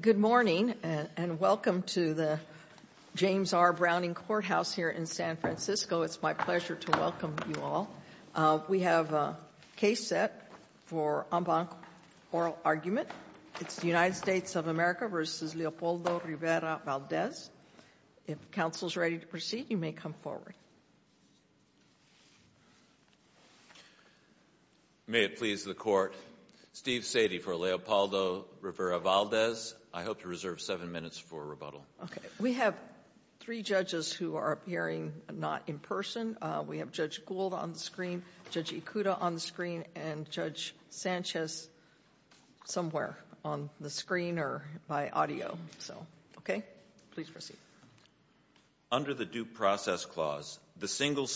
Good morning and welcome to the James R. Browning Courthouse here in San Francisco. It's my pleasure to welcome you all. We have a case set for en banc oral argument. It's the United States of America v. Leopoldo Rivera-Valdez. If counsel is ready to proceed, you may come forward. May it please the court, Steve Sadie for Leopoldo Rivera-Valdez. I hope to reserve seven minutes for rebuttal. We have three judges who are appearing not in person. We have Judge Gould on the screen, Judge Ikuda on the screen, and Judge Sanchez somewhere on the screen or by audio. So okay, please proceed. Under the due process clause, the single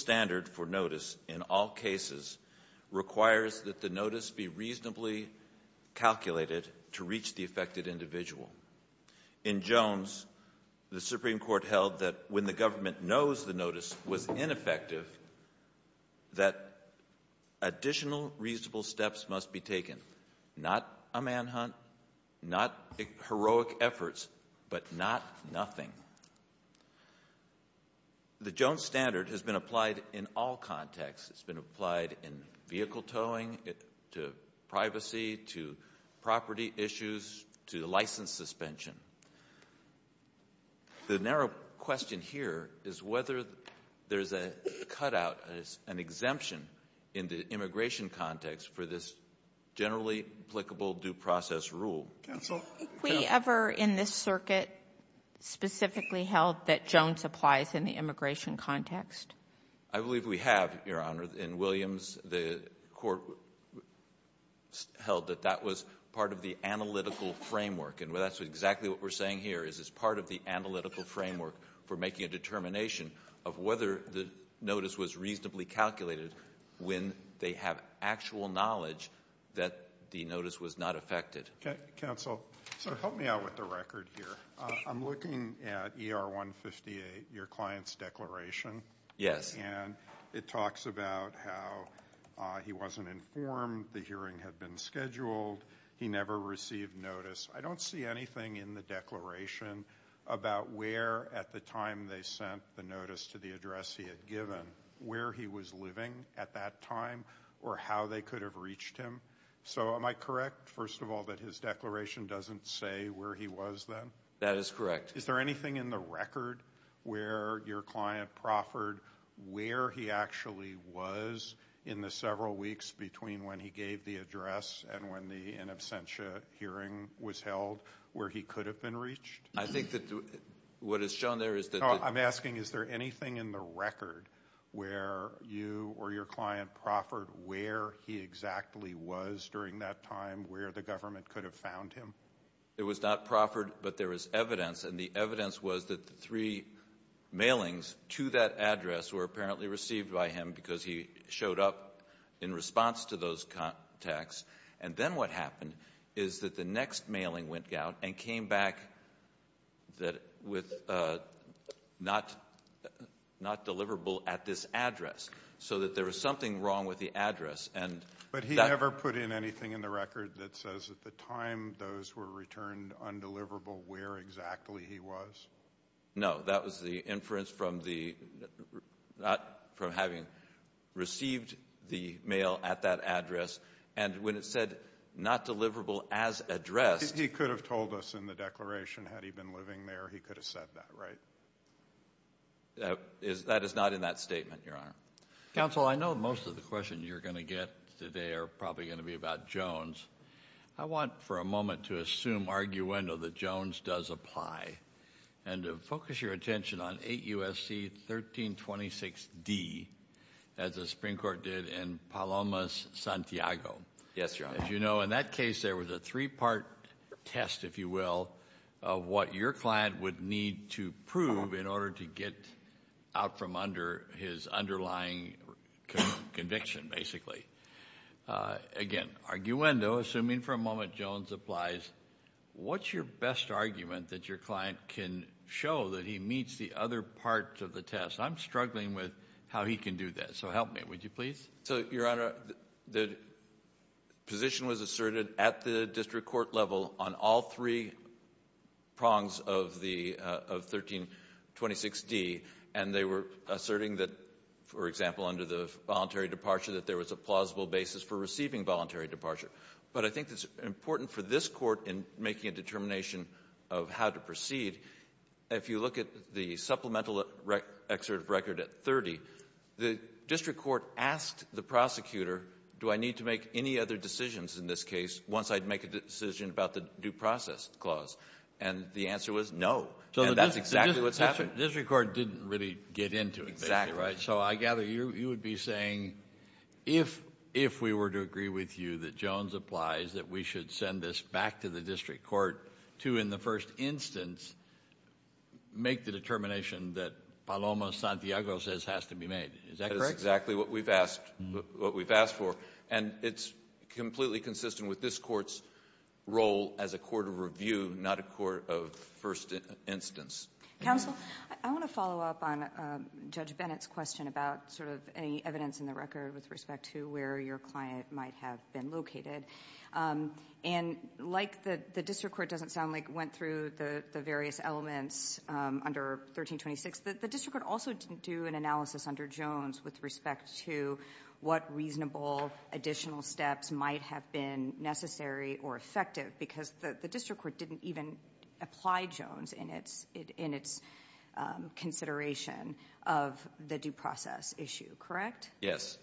calculated to reach the affected individual. In Jones, the Supreme Court held that when the government knows the notice was ineffective, that additional reasonable steps must be taken. Not a manhunt, not heroic efforts, but not nothing. The Jones standard has been applied in all contexts. It's been applied to property issues, to license suspension. The narrow question here is whether there's a cutout, an exemption in the immigration context for this generally applicable due process rule. Counsel? Have we ever in this circuit specifically held that Jones applies in the immigration context? I believe we have, Your Honor. In Williams, the court held that that was part of the analytical framework. And that's exactly what we're saying here, is it's part of the analytical framework for making a determination of whether the notice was reasonably calculated when they have actual knowledge that the notice was not affected. Counsel, so help me out with the record here. I'm looking at ER 158, your client's declaration. Yes. And it talks about how he wasn't informed, the hearing had been scheduled, he never received notice. I don't see anything in the declaration about where at the time they sent the notice to the address he had given, where he was living at that time, or how they could have reached him. So am I correct, first of all, that his declaration doesn't say where he was then? That is correct. Is there anything in the record where your client proffered where he actually was in the several weeks between when he gave the address and when the in absentia hearing was held, where he could have been reached? I think that what is shown there is that... I'm asking is there anything in the record where you or your client proffered where he exactly was during that time, where the government could have found him? It was not proffered, but there is evidence and the evidence was that the three mailings to that address were apparently received by him because he showed up in response to those contacts. And then what happened is that the next mailing went out and came back with not deliverable at this address. So that there was something wrong with the address. But he never put in anything in the record that says at the time those were returned undeliverable where exactly he was? No, that was the inference from having received the mail at that address and when it said not deliverable as addressed... He could have told us in the declaration had he been living there, he could have said that, right? That is not in that statement, Your Honor. Counsel, I know most of the questions you're going to get today are probably going to be about Jones. I want for a moment to assume arguendo that Jones does apply and to focus your attention on 8 U.S.C. 1326 D as the Supreme Court did in Palomas, Santiago. Yes, Your Honor. As you know, in that case there was a three-part test, if you will, of what your client would need to prove in order to get out from under his underlying conviction, basically. Again, arguendo, assuming for a moment Jones applies, what's your best argument that your client can show that he meets the other part of the test? I'm struggling with how he can do that, so help me, would you please? So, Your Honor, the position was asserted at the district court level on all three prongs of 1326 D, and they were asserting that, for example, under the voluntary departure that there was a plausible basis for receiving voluntary departure. But I think it's important for this court in making a determination of how to proceed, if you look at the supplemental excerpt of record at 30, the district court asked the prosecutor, do I need to make any other decisions in this case once I'd make a decision about the due process clause? And the answer was no. So that's exactly what's happening. The district court didn't really get into it, right? So I gather you would be saying, if we were to agree with you that Jones applies, that we should send this back to the district court to, in the first instance, make the determination that Palomas, Santiago says has to be made. Is that what we've asked for? And it's completely consistent with this court's role as a court of review, not a court of first instance. Counsel, I want to follow up on Judge Bennett's question about sort of any evidence in the record with respect to where your client might have been located. And like the district court doesn't sound like it went through the various elements under 1326, the district court also didn't do an analysis under Jones with respect to what reasonable additional steps might have been necessary or effective because the district court didn't even apply Jones in its consideration of the due process issue, correct? Yes.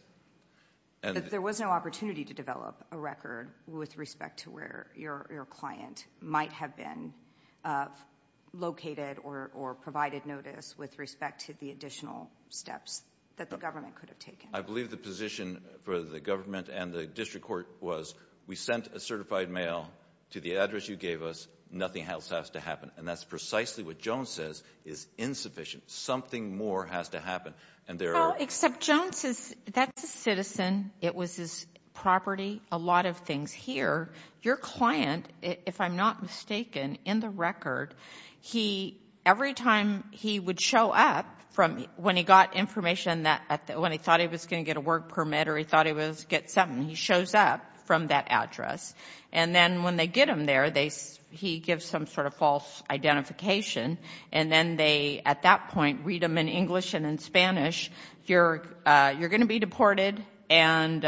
But there was no opportunity to develop a record with respect to where your client might have been located or provided notice with respect to the additional steps that the government could have taken. I believe the position for the government and the district court was, we sent a certified mail to the address you gave us, nothing else has to happen. And that's precisely what Jones says is insufficient. Something more has to happen. And there are... Well, except Jones is, that's a citizen, it was his property, a lot of things here. Your client, if I'm not mistaken, in the record, every time he would show up from when he got information that when he thought he was going to get a work permit or he thought he was get something, he shows up from that address. And then when they get him there, he gives some sort of false identification. And then they, at that point, read him in English and in Spanish, you're going to be deported. And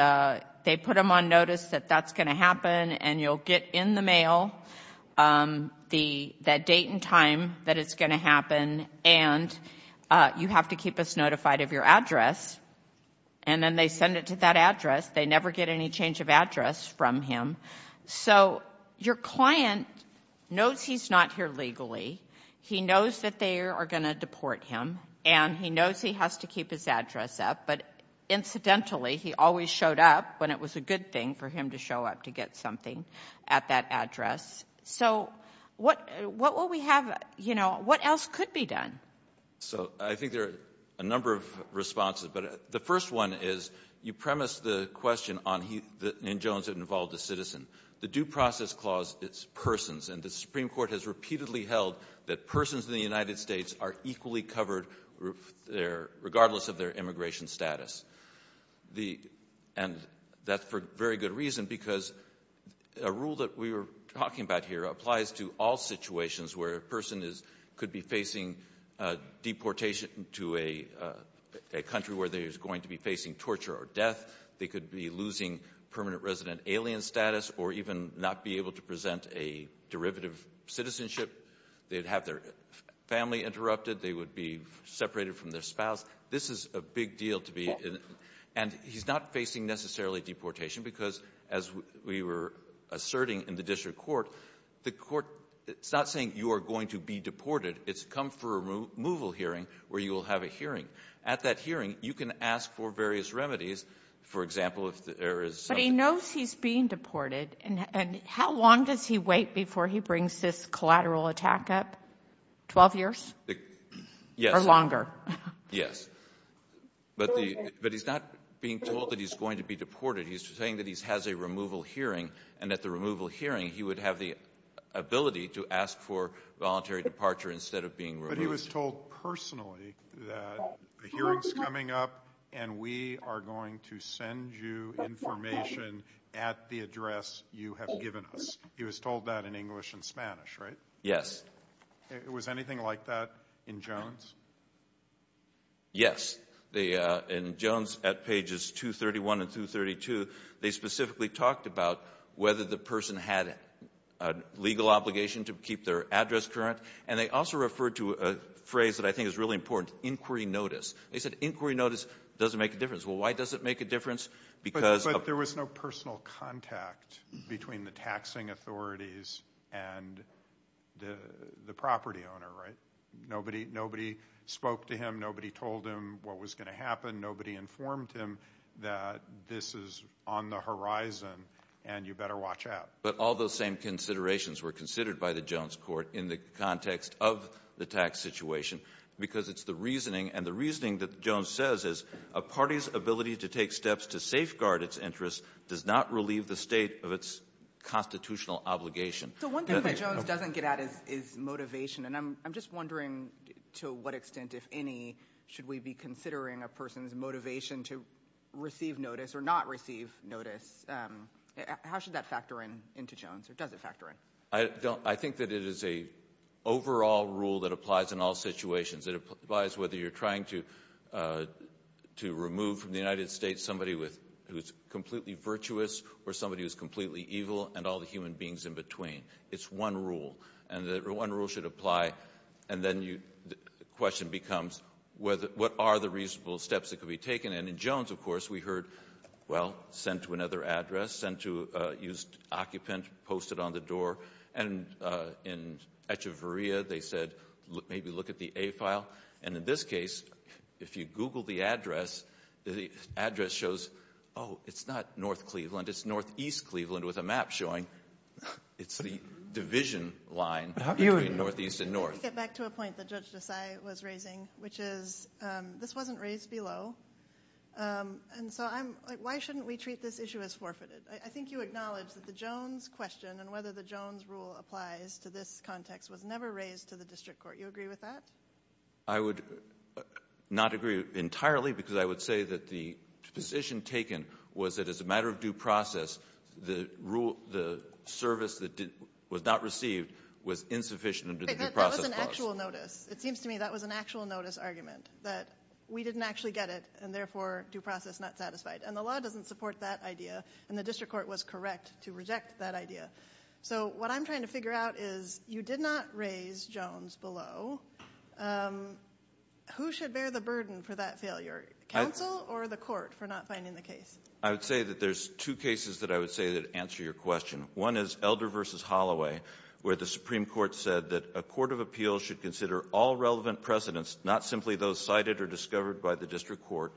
they put him on notice that that's going to happen. And you'll get in the mail that date and time that it's going to happen. And you have to keep us notified of your address. And then they send it to that address. They never get any change of address from him. So your client knows he's not here legally. He knows that they are going to deport him. And he knows he has to keep his address up. But incidentally, he always showed up when it was a good thing for him to show up to get something at that address. So what will we have, you know, what else could be done? So I think there are a number of responses. But the first one is, you premised the question on the Jones that involved a citizen. The due process clause, it's persons. And the Supreme Court has repeatedly held that persons in the United States are equally covered regardless of their immigration status. And that's for very good reason, because a rule that we were talking about here applies to all situations where a person could be facing deportation to a country where they're going to be facing torture or death. They could be losing permanent resident alien status or even not be able to present a derivative citizenship. They'd have their family interrupted. They would be separated from their spouse. This is a big deal to be in. And he's not facing necessarily deportation, because as we were asserting in the district court, the court, it's not saying you are going to be deported. It's come for a removal hearing where you will have a hearing. At that hearing, you can ask for various remedies. For example, if there is something he knows, he's being deported. And how long does he wait before he brings his collateral attack up? Twelve years? Yes. Or longer? Yes. But he's not being told that he's going to be deported. He's saying that he has a removal hearing, and at the removal hearing, he would have the ability to ask for voluntary departure instead of being removed. But he was told personally that the hearing's coming up, and we are going to send you information at the address you have given us. He was told that in English and Spanish, right? Yes. Was anything like that in Jones? Yes. In Jones, at pages 231 and 232, they specifically talked about whether the person had a legal obligation to keep their address current, and they also referred to a phrase that I think is really important, inquiry notice. They said inquiry notice doesn't make a difference. Well, why does it make a difference? But there was no personal contact between the taxing authorities and the property owner, right? Nobody spoke to him. Nobody told him what was going to happen. Nobody informed him that this is on the horizon, and you better watch out. But all those same considerations were considered by the Jones court in the context of the tax situation, because it's the reasoning, and the reasoning that Jones says is a party's ability to take steps to safeguard its interests does not relieve the state of its constitutional obligation. So one thing that Jones doesn't get at is motivation, and I'm just wondering to what extent, if any, should we be considering a person's motivation to receive notice or not receive notice? How should that factor in into Jones, or does it factor in? I think that it is a overall rule that applies in all situations. It applies whether you're trying to remove from the United States somebody who's completely virtuous, or somebody who's completely evil, and all the human beings in between. It's one rule, and that one rule should apply, and then the question becomes, what are the reasonable steps that could be taken? And in Jones, of course, we heard, well, sent to another address, sent to, used occupant, posted on the door, and in Echeverria, they said, maybe look at the A file. And in this case, if you Google the address, the address shows, oh, it's not North Cleveland, it's Northeast Cleveland, with a map showing it's the division line between Northeast and North. Let's get back to a point that Judge Desai was raising, which is, this wasn't raised below, and so I'm, like, why shouldn't we treat this issue as forfeited? I think you acknowledge that the Jones question, and whether the Jones rule applies to this context, was never raised to the district court. You agree with that? I would not agree entirely, because I would say that the position taken was that, as a matter of due process, the rule, the service that was not received was insufficient under the due process clause. That was an actual notice. It seems to me that was an actual notice argument, that we didn't actually get it, and therefore, due process not satisfied. And the law doesn't support that idea, and the district court was correct to reject that idea. So what I'm trying to figure out is, you did not raise Jones below. Who should bear the burden for that failure? Council or the court for not finding the case? I would say that there's two cases that I would say that answer your question. One is Elder v. Holloway, where the Supreme Court said that a court of appeals should consider all relevant precedents, not simply those cited or discovered by the district court.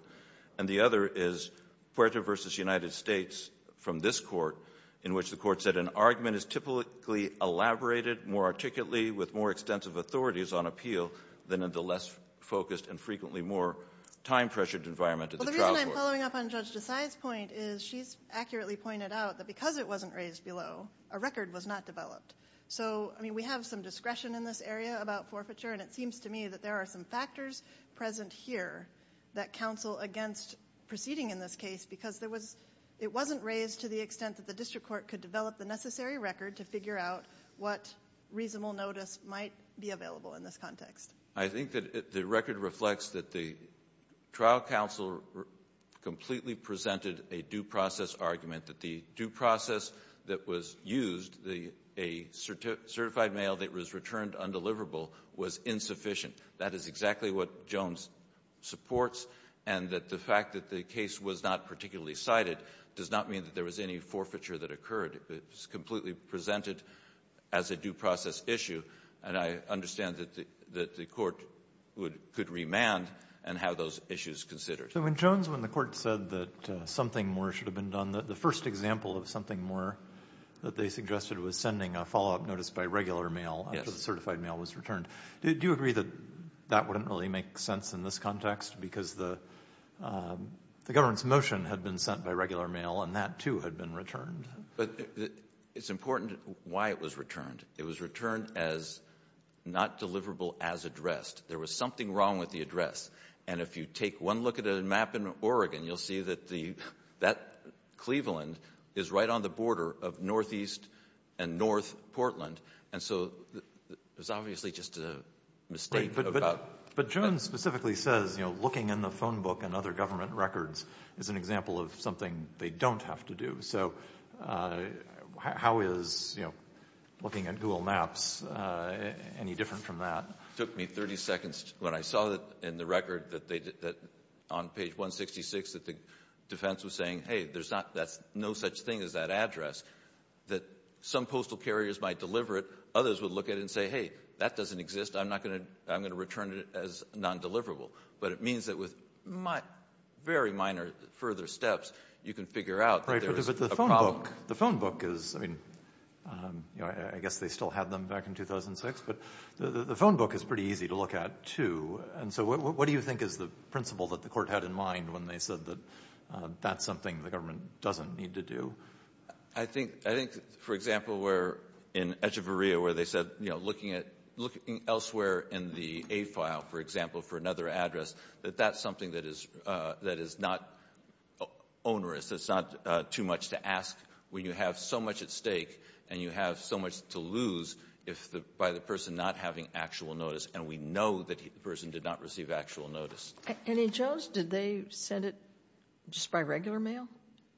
And the other is Puerto v. United States from this court, in which the court said an argument is typically elaborated more articulately with more extensive authorities on appeal than in the less focused and frequently more time-pressured environment of the trial court. Well, the reason I'm following up on Judge Desai's point is she's accurately pointed out that because it wasn't raised below, a record was not developed. So, I mean, we have some discretion in this area about forfeiture, and it seems to me that there are some factors present here that counsel against proceeding in this case, because there was — it wasn't raised to the extent that the district court could develop the necessary record to figure out what reasonable notice might be available in this context. I think that the record reflects that the trial counsel completely presented a due process argument, that the due process that was used, a certified mail that was returned undeliverable, was insufficient. That is exactly what Jones supports, and that the fact that the case was not particularly cited does not mean that there was any forfeiture that occurred. It was completely presented as a due process issue, and I understand that the court would — could remand and have those issues considered. So, when Jones, when the court said that something more should have been done, the first example of something more that they suggested was sending a follow-up notice by regular mail after the certified mail was returned. Do you agree that that didn't really make sense in this context, because the government's motion had been sent by regular mail, and that, too, had been returned? But it's important why it was returned. It was returned as not deliverable as addressed. There was something wrong with the address, and if you take one look at a map in Oregon, you'll see that the — that Cleveland is right on the border of northeast and north Portland, and so it was obviously just a mistake. But Jones specifically says, you know, looking in the phone book and other government records is an example of something they don't have to do. So, how is, you know, looking at Google Maps any different from that? It took me 30 seconds when I saw that in the record that they — that on page 166 that the defense was saying, hey, there's not — that's no such thing as that address, that some postal carriers might deliver it, others would look at it and say, hey, that doesn't exist. I'm not going to — I'm going to return it as non-deliverable. But it means that with very minor further steps, you can figure out that there is a problem. Right, but the phone book — the phone book is, I mean, you know, I guess they still had them back in 2006, but the phone book is pretty easy to look at, too, and so what do you think is the principle that the government had in mind when they said that that's something the government doesn't need to do? I think — I think, for example, where in Echeverria, where they said, you know, looking at — looking elsewhere in the A file, for example, for another address, that that's something that is — that is not onerous. It's not too much to ask when you have so much at stake and you have so much to lose if — by the person not having actual notice, and we know that the person did not receive actual notice. And in Jones, did they send it just by regular mail?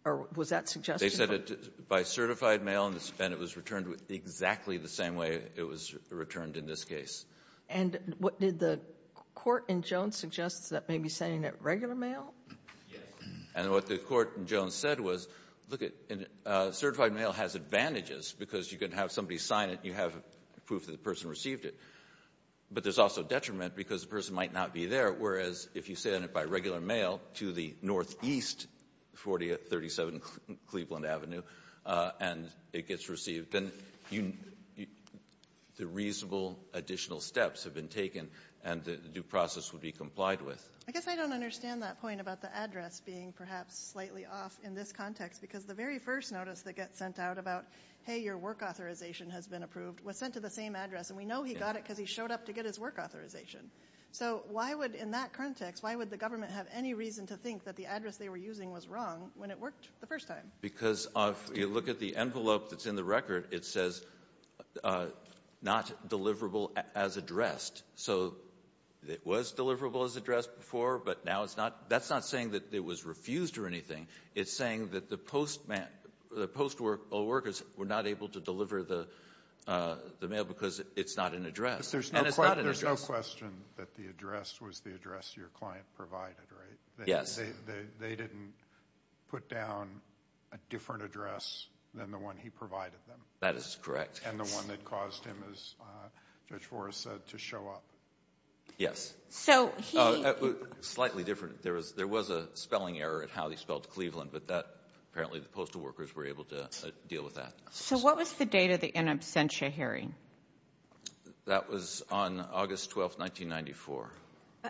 Or was that suggested? They sent it by certified mail, and it was returned with — exactly the same way it was returned in this case. And what did the court in Jones suggest? That maybe sending it regular mail? Yes. And what the court in Jones said was, look, certified mail has advantages because you can have somebody sign it, you have proof that the person received it, but there's also detriment because the person might not be there, whereas if you send it by regular mail to the northeast, 4037 Cleveland Avenue, and it gets received, then the reasonable additional steps have been taken, and the due process would be complied with. I guess I don't understand that point about the address being perhaps slightly off in this context, because the very first notice that gets sent out about, hey, your work authorization has been approved, was sent to the same address, and we know he got it because he showed up to get his work authorization. So why would, in that context, why would the government have any reason to think that the address they were using was wrong when it worked the first time? Because if you look at the envelope that's in the record, it says not deliverable as addressed. So it was deliverable as addressed before, but now it's not — that's not saying that it was refused or anything. It's saying that the postman — the post workers were not able to deliver the mail because it's not an address. But there's no question that the address was the address your client provided, right? Yes. They didn't put down a different address than the one he provided them. That is correct. And the one that caused him, as Judge Forrest said, to show up. Yes. So he — Slightly different. There was a spelling error at how he spelled Cleveland, but that — apparently the postal workers were able to deal with that. So what was the date of the in absentia hearing? That was on August 12th, 1994.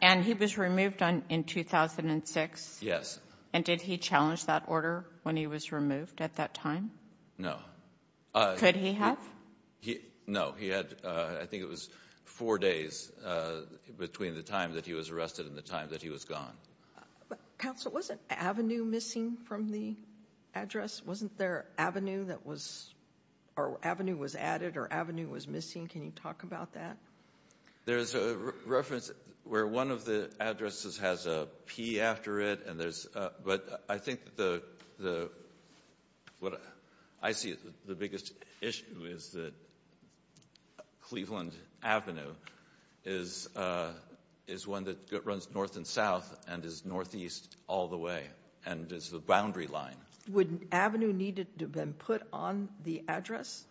And he was removed in 2006? Yes. And did he challenge that order when he was removed at that time? No. Could he have? No, he had — I think it was four days between the time that he was arrested and the time that he was gone. Counsel, was an avenue missing from the address? Wasn't there avenue that was — or avenue was added or avenue was missing? Can you talk about that? There's a reference where one of the addresses has a P after it, and there's — but I think the — what I see as the biggest issue is that Cleveland Avenue is — is one that runs north and south and is northeast all the way, and is the boundary line. Would an avenue need to have been put on the address?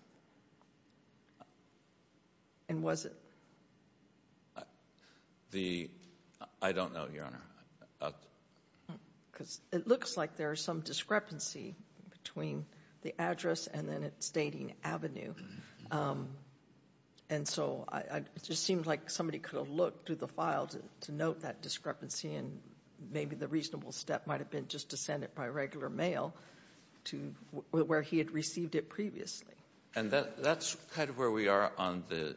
And was it? The — I don't know, Your Honor. Because it looks like there's some discrepancy between the address and then its dating avenue. And so it just seems like somebody could have looked through the file to note that discrepancy, and maybe the reasonable step might have been just to send it by regular mail to where he had received it previously. And that's kind of where we are on the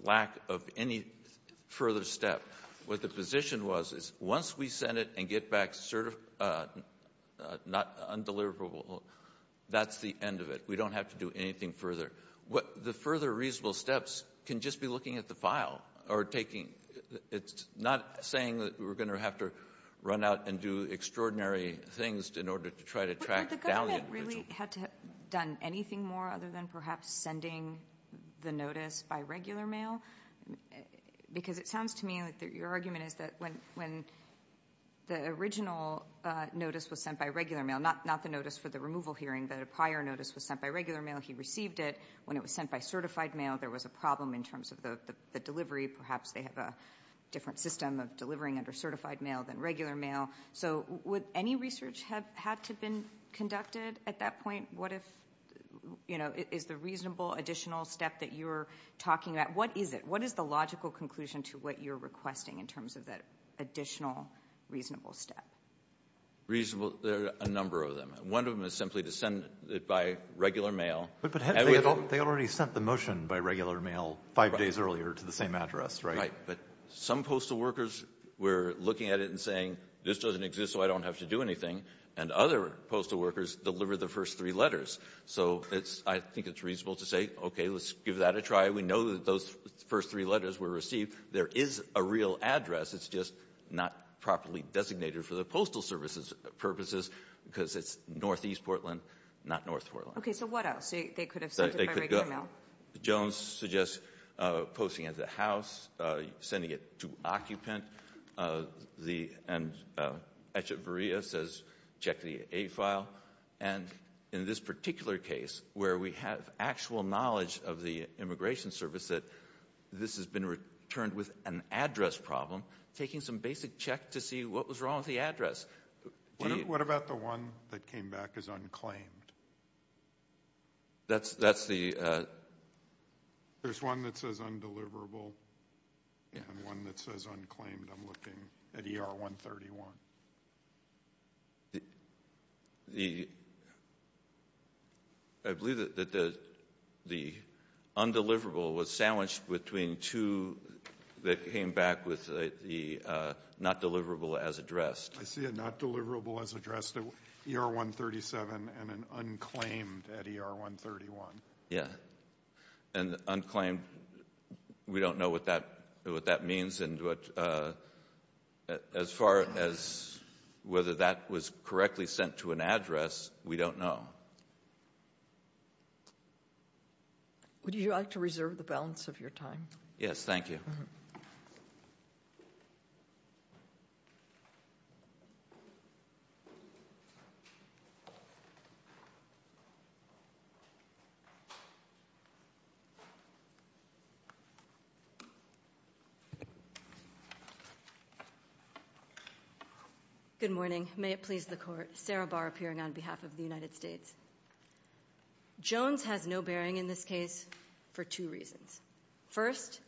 lack of any further step. What the position was is once we send it and get back cert — not — undeliverable, that's the end of it. We don't have to do anything further. The further reasonable steps can just be looking at the file or taking — it's not saying that we're going to have to run out and do extraordinary things in order to try to track down the individual. But the government really had to have done anything more other than perhaps sending the notice by regular mail? Because it sounds to me like your argument is that when the original notice was sent by regular mail, not the notice for the removal hearing, but a prior notice was sent by regular mail, he received it. When it was sent by certified mail, there was a problem in terms of the delivery. Perhaps they have a different system of delivering under certified mail than regular mail. So would any research have had to have been conducted at that point? What if — you know, is the reasonable additional step that you're talking about, what is it? What is the logical conclusion to what you're requesting in terms of that additional reasonable step? Reasonable — there are a number of them. One of them is simply to send it by regular mail. But they already sent the motion by regular mail five days earlier to the same address, right? Right. But some postal workers were looking at it and saying, this doesn't exist so I don't have to do anything. And other postal workers delivered the first three letters. So it's — I think it's reasonable to say, okay, let's give that a try. We know that those first three letters were received. There is a real address. It's just not properly designated for the postal services purposes because it's northeast Portland, not north Portland. So what else? They could have sent it by regular mail. Jones suggests posting it at the house, sending it to occupant. And Echeverria says check the A file. And in this particular case where we have actual knowledge of the immigration service that this has been returned with an address problem, taking some basic check to see what was wrong with the address. What about the one that came back as unclaimed? That's the — There's one that says undeliverable and one that says unclaimed. I'm looking at ER 131. The — I believe that the undeliverable was sandwiched between two that came back with the not deliverable as addressed. I see a not deliverable as addressed at ER 137 and an unclaimed at ER 131. Yeah. And unclaimed, we don't know what that means. And as far as whether that was correctly sent to an address, we don't know. Would you like to reserve the balance of your time? Yes, thank you. Good morning. May it please the court. Sarah Barr appearing on behalf of the United States. Jones has no bearing in this case for two reasons. First,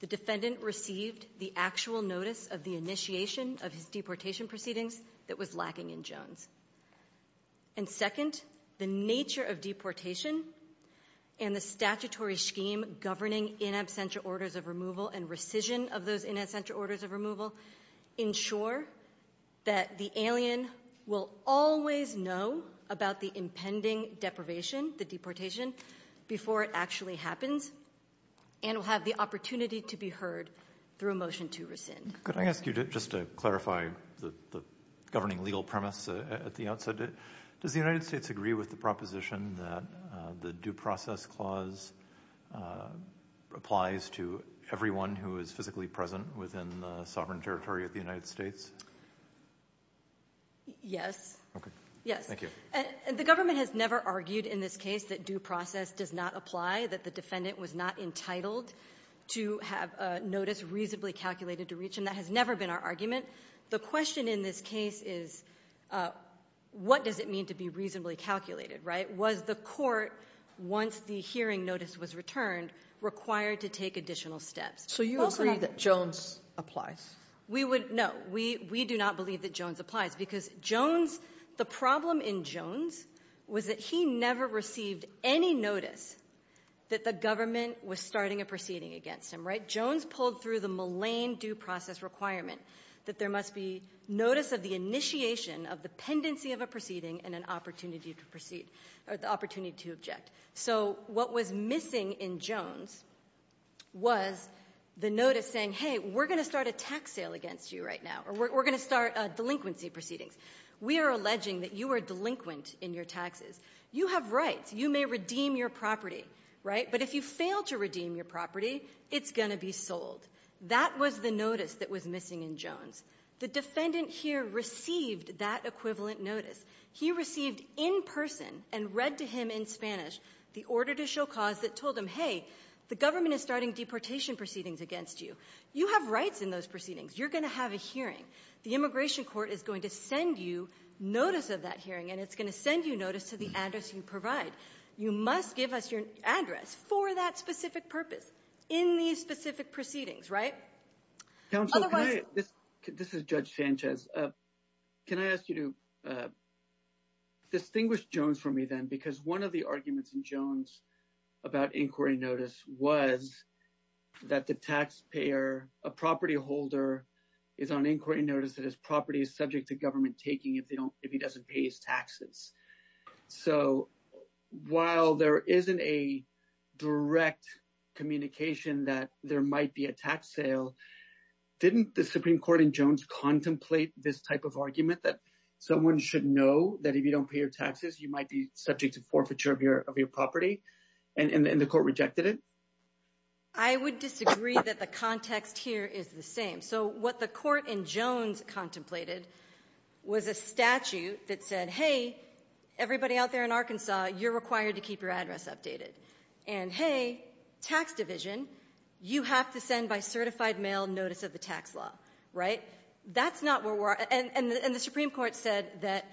the defendant received the actual notice of the initiation of his deportation proceedings that was lacking in Jones. And second, the nature of deportation and the statutory scheme governing in absentia orders of removal and rescission of those in absentia orders of removal ensure that the alien will always know about the impending deprivation, the deportation, before it actually happens and will have the opportunity to be heard through a motion to rescind. Could I ask you just to clarify the governing legal premise at the outset? Does the United States agree with the proposition that the due process clause applies to everyone who is physically present within the sovereign territory of the United States? Yes. Okay. Yes. Thank you. And the government has never argued in this case that due process does not apply, that the defendant was not entitled to have a notice reasonably calculated to reach him. That has never been our argument. The question in this case is what does it mean to be reasonably calculated, right? Was the court, once the hearing notice was returned, required to take additional steps? So you agree that Jones applies? We would not. We do not believe that Jones applies. Because Jones, the problem in Jones was that he never received any notice that the government was starting a proceeding against him. Right? Jones pulled through the Millane due process requirement that there must be notice of the initiation of the pendency of a proceeding and an opportunity to proceed or the opportunity to object. So what was missing in Jones was the notice saying, hey, we're going to start a tax sale against you right now or we're going to start delinquency proceedings. We are alleging that you are delinquent in your taxes. You have rights. You may redeem your property. Right? But if you fail to redeem your property, it's going to be sold. That was the notice that was missing in Jones. The defendant here received that equivalent notice. He received in person and read to him in Spanish the order to show cause that told him, hey, the government is starting deportation proceedings against you. You have rights in those proceedings. You're going to have a hearing. The immigration court is going to send you notice of that hearing, and it's going to send you notice to the address you provide. You must give us your address for that specific purpose in these specific proceedings. Counsel, this is Judge Sanchez. Can I ask you to distinguish Jones from me then? Because one of the arguments in Jones about inquiry notice was that the taxpayer, a property holder, is on inquiry notice that his property is subject to government taking if he doesn't pay his taxes. So while there isn't a direct communication that there might be a tax sale, didn't the Supreme Court in Jones contemplate this type of argument that someone should know that if you don't pay your taxes, you might be subject to forfeiture of your property? And the court rejected it? I would disagree that the context here is the same. So what the court in Jones contemplated was a statute that said, hey, everybody out there in Arkansas, you're required to keep your address updated. And, hey, tax division, you have to send by certified mail notice of the tax law, right? That's not where we're at. And the Supreme Court said that,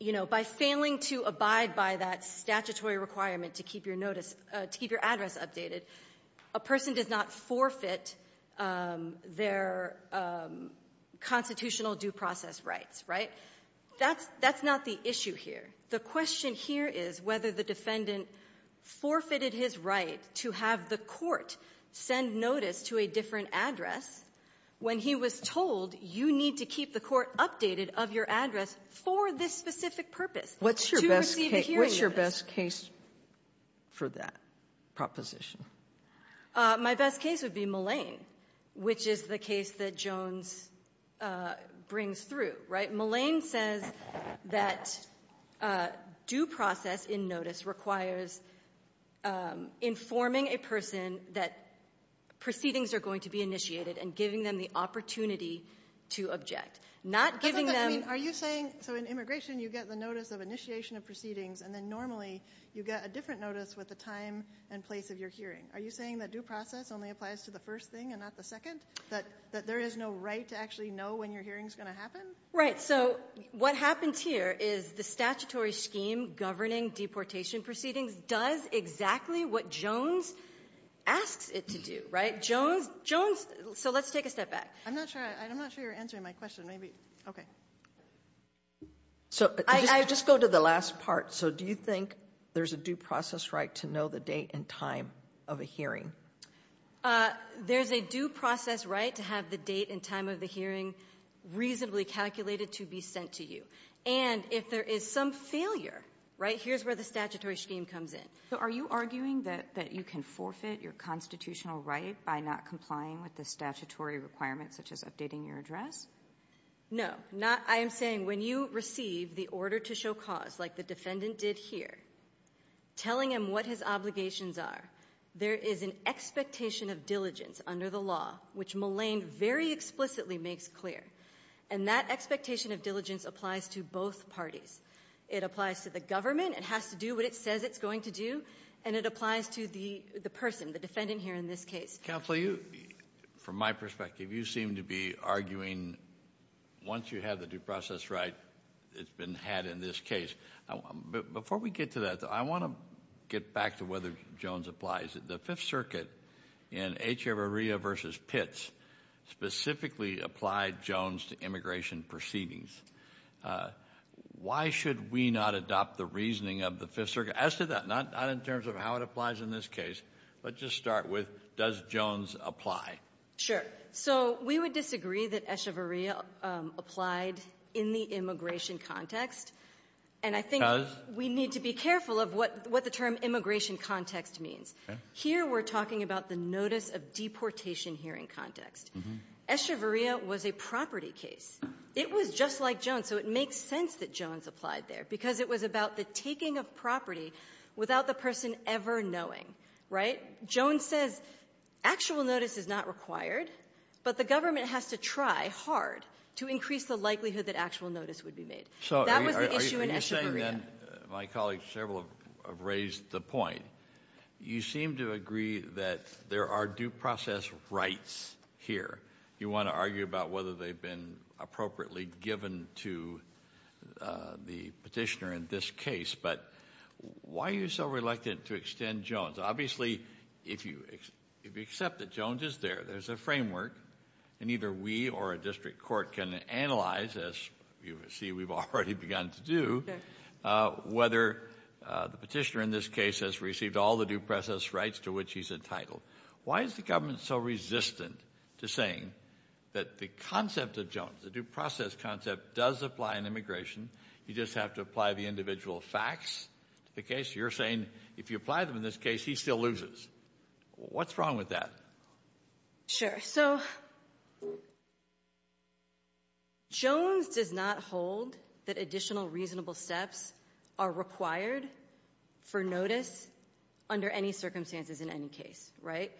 you know, by failing to abide by that statutory requirement to keep your notice, to keep your address updated, a person does not forfeit their constitutional due process rights, right? That's not the issue here. The question here is whether the defendant forfeited his right to have the court send notice to a different address when he was told you need to keep the court updated of your address for this specific purpose, to receive the hearing notice. What's your best case for that proposition? My best case would be Mullane, which is the case that Jones brings through, right? And Mullane says that due process in notice requires informing a person that proceedings are going to be initiated and giving them the opportunity to object. Not giving them — Are you saying, so in immigration you get the notice of initiation of proceedings, and then normally you get a different notice with the time and place of your hearing? Are you saying that due process only applies to the first thing and not the second? That there is no right to actually know when your hearing is going to happen? Right. So what happens here is the statutory scheme governing deportation proceedings does exactly what Jones asks it to do, right? Jones — Jones — so let's take a step back. I'm not sure — I'm not sure you're answering my question. Maybe — okay. So I just go to the last part. So do you think there's a due process right to know the date and time of a hearing? There's a due process right to have the date and time of the hearing reasonably calculated to be sent to you. And if there is some failure, right, here's where the statutory scheme comes in. So are you arguing that you can forfeit your constitutional right by not complying with the statutory requirements, such as updating your address? No. Not — I am saying when you receive the order to show cause, like the defendant did here, telling him what his obligations are, there is an expectation of diligence under the law, which Mullane very explicitly makes clear. And that expectation of diligence applies to both parties. It applies to the government. It has to do what it says it's going to do. And it applies to the person, the defendant here in this case. Counsel, you — from my perspective, you seem to be arguing once you have the due process right, it's been had in this case. Before we get to that, I want to get back to whether Jones applies. The Fifth Circuit in Echevarria v. Pitts specifically applied Jones to immigration proceedings. Why should we not adopt the reasoning of the Fifth Circuit as to that, not in terms of how it applies in this case, but just start with does Jones apply? Sure. So we would disagree that Echevarria applied in the immigration context. And I think we need to be careful of what the term immigration context means. Here we're talking about the notice of deportation hearing context. Echevarria was a property case. It was just like Jones. So it makes sense that Jones applied there because it was about the taking of property without the person ever knowing. Right? Jones says actual notice is not required, but the government has to try hard to increase the likelihood that actual notice would be made. That was the issue in Echevarria. So are you saying then, my colleagues, several have raised the point, you seem to agree that there are due process rights here. You want to argue about whether they've been appropriately given to the Petitioner in this case. But why are you so reluctant to extend Jones? Obviously, if you accept that Jones is there, there's a framework, and either we or a district court can analyze, as you see we've already begun to do, whether the Petitioner in this case has received all the due process rights to which he's entitled. Why is the government so resistant to saying that the concept of Jones, the due process concept, does apply in immigration? You just have to apply the individual facts to the case? You're saying if you apply them in this case, he still loses. What's wrong with that? Sure. So Jones does not hold that additional reasonable steps are required for notice under any circumstances in any case. Right?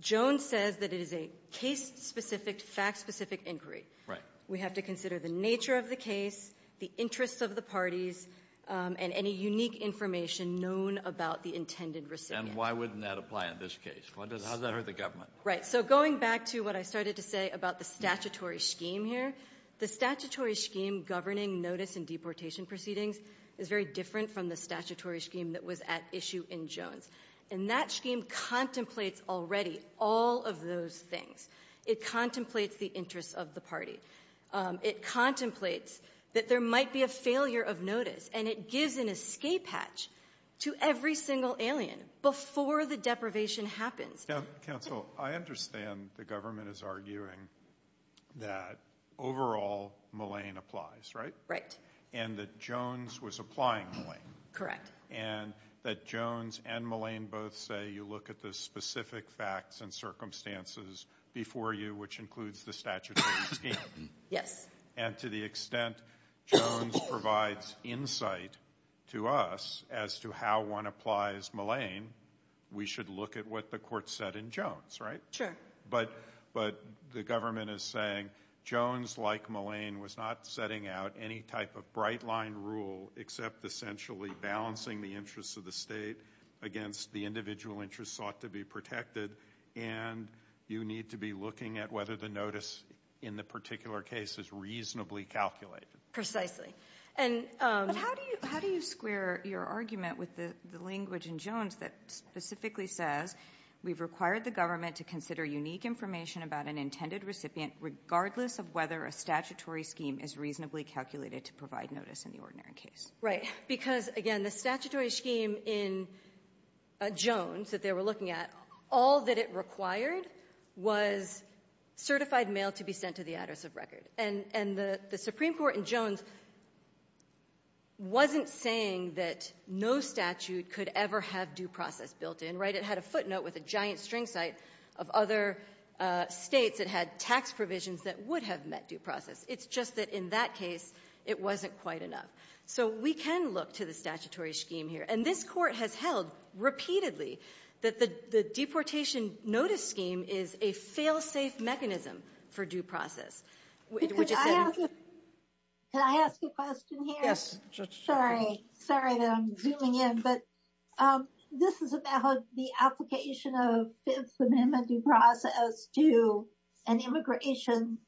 Jones says that it is a case-specific, fact-specific inquiry. Right. We have to consider the nature of the case, the interests of the parties, and any unique information known about the intended recipient. And why wouldn't that apply in this case? How does that hurt the government? Right. So going back to what I started to say about the statutory scheme here, the statutory scheme governing notice and deportation proceedings is very different from the statutory scheme that was at issue in Jones. And that scheme contemplates already all of those things. It contemplates the interests of the party. It contemplates that there might be a failure of notice. And it gives an escape hatch to every single alien before the deprivation happens. Now, counsel, I understand the government is arguing that overall Mallain applies. Right? Right. And that Jones was applying Mallain. Correct. And that Jones and Mallain both say you look at the specific facts and circumstances before you, which includes the statutory scheme. Yes. And to the extent Jones provides insight to us as to how one applies Mallain, we should look at what the court said in Jones. Right? Sure. But the government is saying Jones, like Mallain, was not setting out any type of bright line rule except essentially balancing the interests of the state against the individual interests sought to be protected. And you need to be looking at whether the notice in the particular case is reasonably calculated. Precisely. But how do you square your argument with the language in Jones that specifically says we've required the government to consider unique information about an intended recipient regardless of whether a statutory scheme is reasonably calculated to provide notice in the ordinary case? Right. Because, again, the statutory scheme in Jones that they were looking at, all that it required was certified mail to be sent to the address of record. And the Supreme Court in Jones wasn't saying that no statute could ever have due process built in. Right? It had a footnote with a giant string site of other states that had tax provisions that would have met due process. It's just that in that case, it wasn't quite enough. So we can look to the statutory scheme here. And this court has held repeatedly that the deportation notice scheme is a fail-safe mechanism for due process. Could I ask a question here? Sorry. Sorry that I'm zooming in. But this is about the application of Fifth Amendment due process to an immigration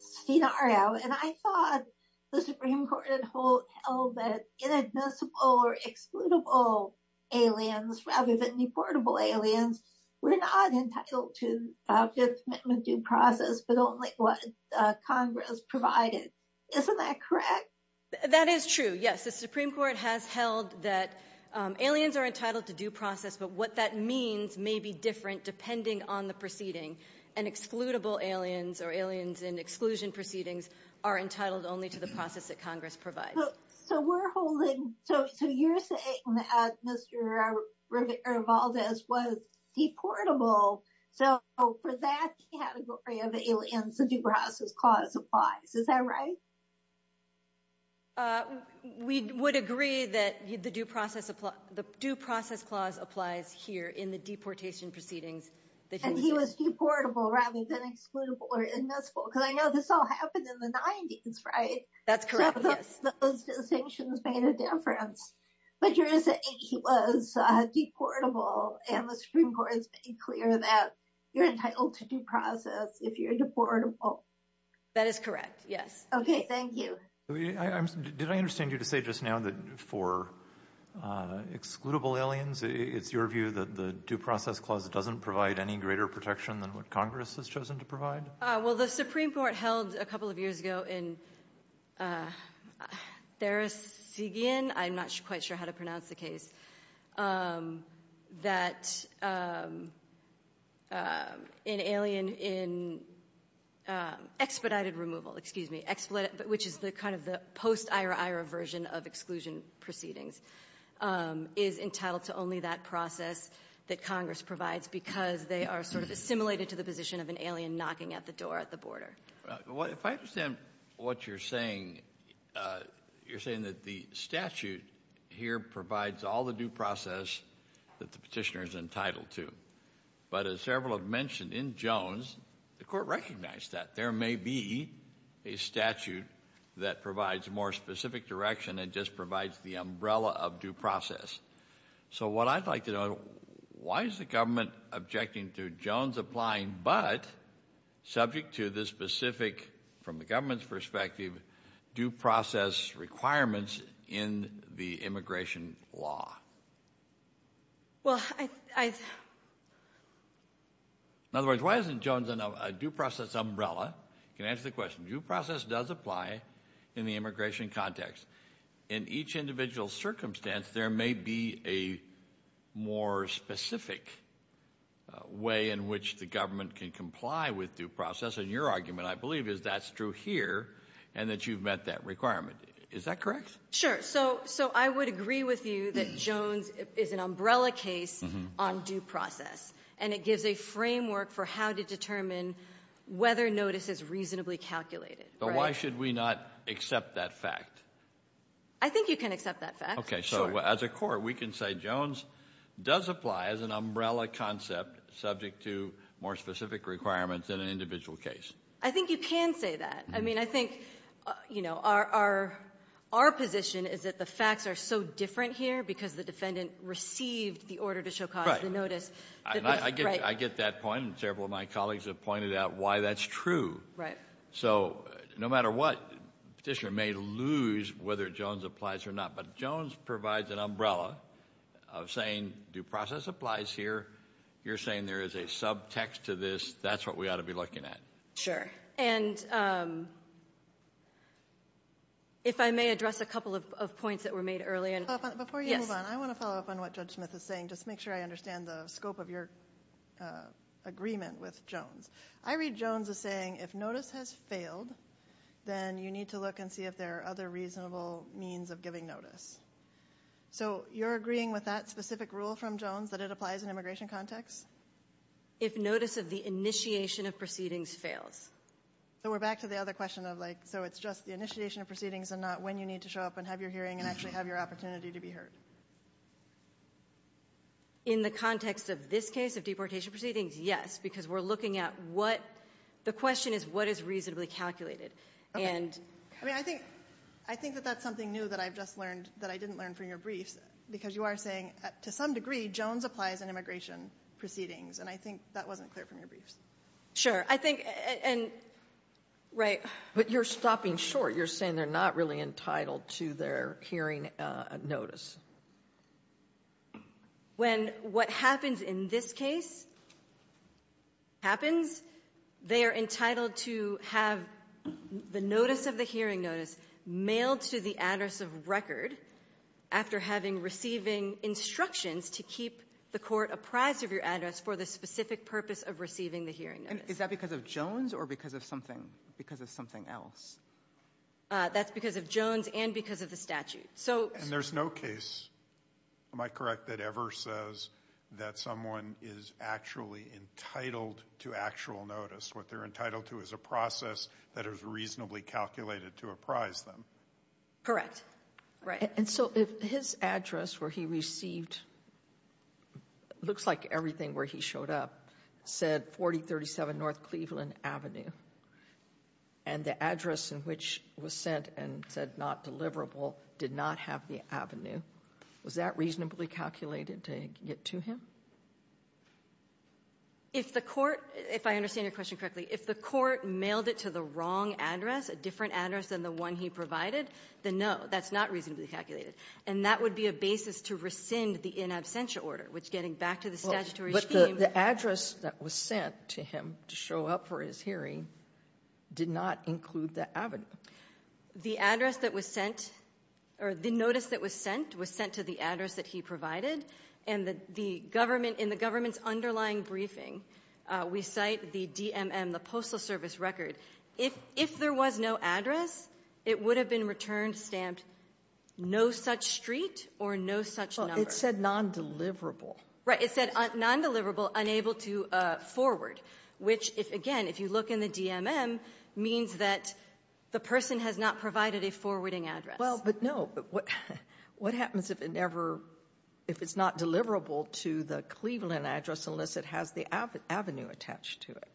scenario. And I thought the Supreme Court had held that inadmissible or excludable aliens rather than deportable aliens were not entitled to Fifth Amendment due process, but only what Congress provided. Isn't that correct? That is true, yes. The Supreme Court has held that aliens are entitled to due process. But what that means may be different depending on the proceeding. And excludable aliens or aliens in exclusion proceedings are entitled only to the process that Congress provides. So you're saying that Mr. Rivaldez was deportable. So for that category of aliens, the due process clause applies. Is that right? We would agree that the due process clause applies here in the deportation proceedings. And he was deportable rather than excludable or inadmissible. Because I know this all happened in the 90s, right? That's correct, yes. So those distinctions made a difference. But you're saying he was deportable and the Supreme Court has made clear that you're entitled to due process if you're deportable. That is correct, yes. Okay, thank you. Did I understand you to say just now that for excludable aliens, it's your view that the Congress has chosen to provide? Well, the Supreme Court held a couple of years ago in Therasigian, I'm not quite sure how to pronounce the case, that an alien in expedited removal, excuse me, expedited removal, which is kind of the post-IRA-IRA version of exclusion proceedings, is entitled to only that process that Congress provides because they are sort of assimilated to the position of an alien knocking at the door at the border. If I understand what you're saying, you're saying that the statute here provides all the due process that the Petitioner is entitled to. But as several have mentioned, in Jones, the Court recognized that there may be a statute that provides a more specific direction and just provides the umbrella of due process. So what I'd like to know, why is the government objecting to Jones applying but subject to the specific, from the government's perspective, due process requirements in the immigration law? In other words, why isn't Jones a due process umbrella? You can answer the question. Due process does apply in the immigration context. In each individual circumstance, there may be a more specific way in which the government can comply with due process, and your argument, I believe, is that's true here, and that you've met that requirement. Is that correct? Sure. So I would agree with you that Jones is an umbrella case on due process, and it gives a framework for how to determine whether notice is reasonably calculated. But why should we not accept that fact? I think you can accept that fact. Okay. So as a Court, we can say Jones does apply as an umbrella concept subject to more specific requirements in an individual case. I think you can say that. I mean, I think, you know, our position is that the facts are so different here because the defendant received the order to show cause of the notice. I get that point, and several of my colleagues have pointed out why that's true. Right. So no matter what, the Petitioner may lose whether Jones applies or not. But Jones provides an umbrella of saying due process applies here. You're saying there is a subtext to this. That's what we ought to be looking at. Sure. And if I may address a couple of points that were made earlier. Before you move on, I want to follow up on what Judge Smith is saying. Just make sure I understand the scope of your agreement with Jones. I read Jones as saying if notice has failed, then you need to look and see if there are other reasonable means of giving notice. So you're agreeing with that specific rule from Jones that it applies in immigration context? If notice of the initiation of proceedings fails. So we're back to the other question of, like, so it's just the initiation of proceedings and not when you need to show up and have your hearing and actually have your opportunity to be heard? In the context of this case of deportation proceedings, yes. Because we're looking at what the question is what is reasonably calculated. I mean, I think that that's something new that I've just learned that I didn't learn from your briefs. Because you are saying to some degree Jones applies in immigration proceedings. And I think that wasn't clear from your briefs. Sure. I think and right. But you're stopping short. You're saying they're not really entitled to their hearing notice. When what happens in this case happens, they are entitled to have the notice of the hearing notice mailed to the address of record after having receiving instructions to keep the court apprised of your address for the specific purpose of receiving the hearing notice. Is that because of Jones or because of something else? That's because of Jones and because of the statute. And there's no case, am I correct, that ever says that someone is actually entitled to actual notice. What they're entitled to is a process that is reasonably calculated to apprise them. Correct. Right. And so if his address where he received, looks like everything where he showed up, said 4037 North Cleveland Avenue, and the address in which it was sent and said not deliverable did not have the avenue, was that reasonably calculated to get to him? If the court, if I understand your question correctly, if the court mailed it to the wrong address, a different address than the one he provided, then no, that's not reasonably calculated. And that would be a basis to rescind the in absentia order, which getting back to the statutory scheme. Well, but the address that was sent to him to show up for his hearing did not include that avenue. The address that was sent, or the notice that was sent, was sent to the address that he provided, and the government, in the government's underlying briefing, we cite the DMM, the Postal Service Record. If there was no address, it would have been returned stamped no such street or no such number. Well, it said non-deliverable. Right. It said non-deliverable, unable to forward, which, again, if you look in the DMM, means that the person has not provided a forwarding address. Well, but no. What happens if it never, if it's not deliverable to the Cleveland address unless it has the avenue attached to it?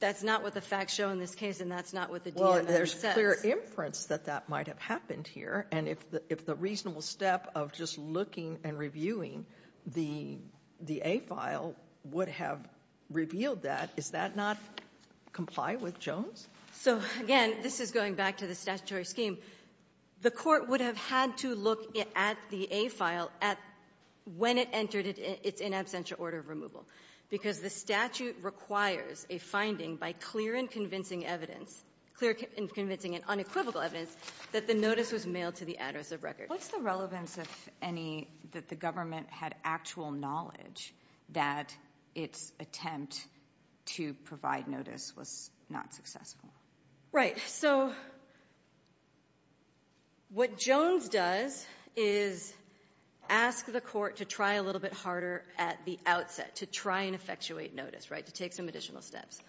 That's not what the facts show in this case, and that's not what the DMM says. Well, there's clear inference that that might have happened here. And if the reasonable step of just looking and reviewing the A file would have revealed that, does that not comply with Jones? So, again, this is going back to the statutory scheme. The Court would have had to look at the A file at when it entered its in absentia order of removal, because the statute requires a finding by clear and convincing evidence, clear and convincing and unequivocal evidence, that the notice was mailed to the address of record. What's the relevance, if any, that the government had actual knowledge that its attempt to provide notice was not successful? Right. So what Jones does is ask the Court to try a little bit harder at the outset, to try and effectuate notice, right, to take some additional steps.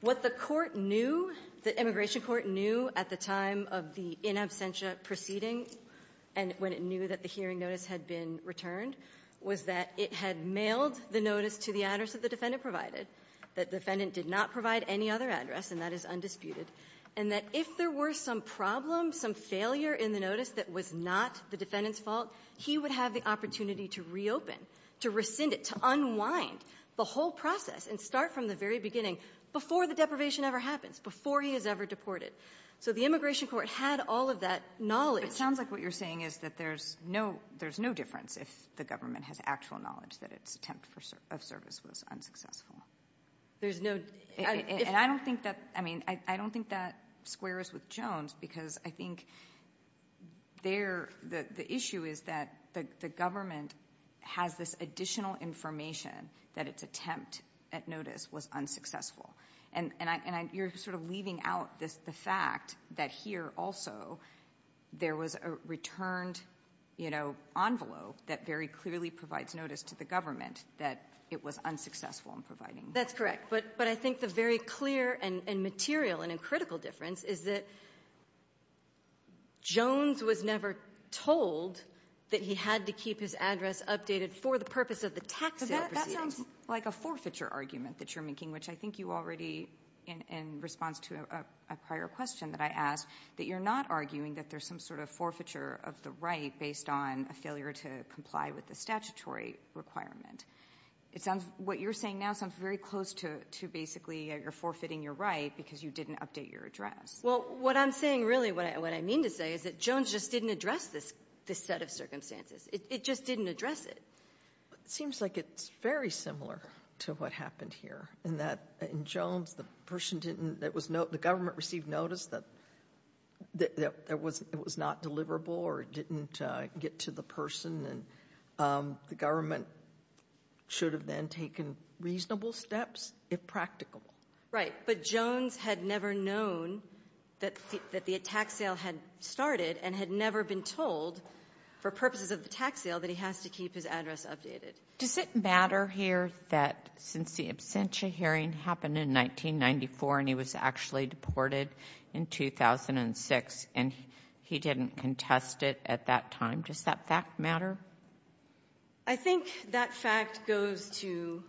What the Court knew, the immigration court knew at the time of the in absentia proceeding, and when it knew that the hearing notice had been returned, was that it had mailed the notice to the address that the defendant provided, that the defendant did not provide any other address, and that is undisputed, and that if there were some problem, some failure in the notice that was not the defendant's fault, he would have the opportunity to reopen, to rescind it, to unwind the whole process and start from the very beginning, before the deprivation ever happens, before he is ever deported. So the immigration court had all of that knowledge. It sounds like what you're saying is that there's no difference if the government has actual knowledge that its attempt of service was unsuccessful. There's no... And I don't think that, I mean, I don't think that squares with Jones because I think the issue is that the government has this additional information that its attempt at notice was unsuccessful. And you're sort of leaving out the fact that here also there was a returned, you know, envelope that very clearly provides notice to the government that it was unsuccessful in providing. That's correct. But I think the very clear and material and critical difference is that Jones was never told that he had to keep his address updated for the purpose of the tax sale proceedings. It sounds like a forfeiture argument that you're making, which I think you already, in response to a prior question that I asked, that you're not arguing that there's some sort of forfeiture of the right based on a failure to comply with the statutory requirement. It sounds, what you're saying now sounds very close to basically you're forfeiting your right because you didn't update your address. Well, what I'm saying really, what I mean to say is that Jones just didn't address this set of circumstances. It just didn't address it. It seems like it's very similar to what happened here in that in Jones the person didn't, the government received notice that it was not deliverable or it didn't get to the person. And the government should have then taken reasonable steps if practicable. Right. But Jones had never known that the tax sale had started and had never been told for Does it matter here that since the absentia hearing happened in 1994 and he was actually deported in 2006 and he didn't contest it at that time, does that fact matter? I think that fact goes to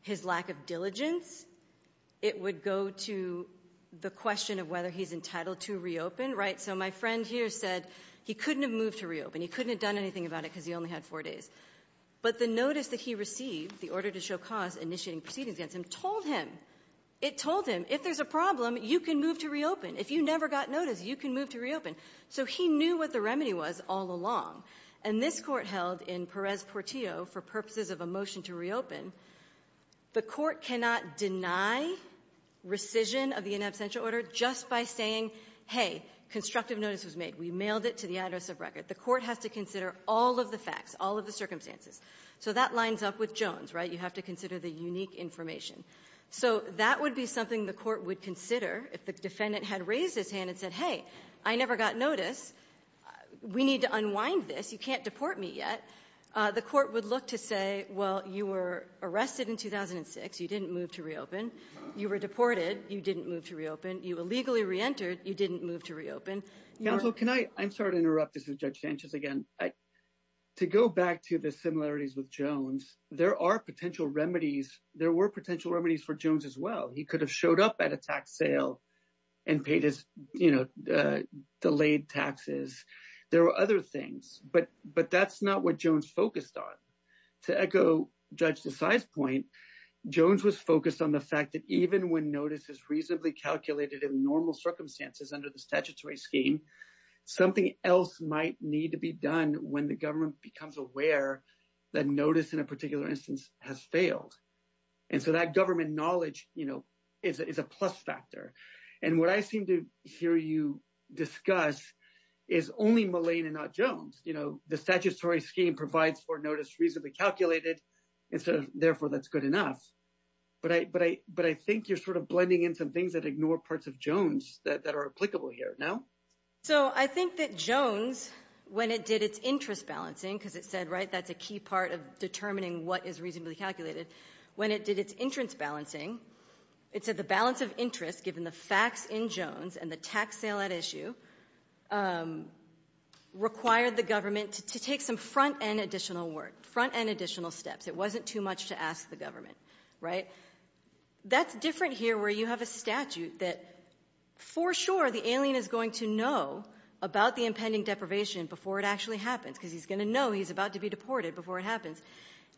his lack of diligence. It would go to the question of whether he's entitled to reopen. Right. So my friend here said he couldn't have moved to reopen. He couldn't have done anything about it because he only had four days. But the notice that he received, the order to show cause initiating proceedings against him, told him. It told him if there's a problem, you can move to reopen. If you never got notice, you can move to reopen. So he knew what the remedy was all along. And this Court held in Perez-Portillo for purposes of a motion to reopen, the Court cannot deny rescission of the in absentia order just by saying, hey, constructive notice was made. We mailed it to the address of record. The Court has to consider all of the facts, all of the circumstances. So that lines up with Jones, right? You have to consider the unique information. So that would be something the Court would consider if the defendant had raised his hand and said, hey, I never got notice. We need to unwind this. You can't deport me yet. The Court would look to say, well, you were arrested in 2006. You didn't move to reopen. You were deported. You didn't move to reopen. You illegally reentered. You didn't move to reopen. Counsel, can I? I'm sorry to interrupt. This is Judge Sanchez again. To go back to the similarities with Jones, there are potential remedies. There were potential remedies for Jones as well. He could have showed up at a tax sale and paid his, you know, delayed taxes. There were other things. But that's not what Jones focused on. To echo Judge Desai's point, Jones was focused on the fact that even when notice is reasonably calculated in normal circumstances under the statutory scheme, something else might need to be done when the government becomes aware that notice in a particular instance has failed. And so that government knowledge, you know, is a plus factor. And what I seem to hear you discuss is only Mullane and not Jones. You know, the statutory scheme provides for notice reasonably calculated, and so therefore that's good enough. But I think you're sort of blending in some things that ignore parts of Jones that are applicable here. No? So I think that Jones, when it did its interest balancing, because it said, right, that's a key part of determining what is reasonably calculated. When it did its interest balancing, it said the balance of interest, given the facts in Jones and the tax sale at issue, required the government to take some front-end additional work, front-end additional steps. It wasn't too much to ask the government. Right? That's different here where you have a statute that for sure the alien is going to know about the impending deprivation before it actually happens because he's going to know he's about to be deported before it happens.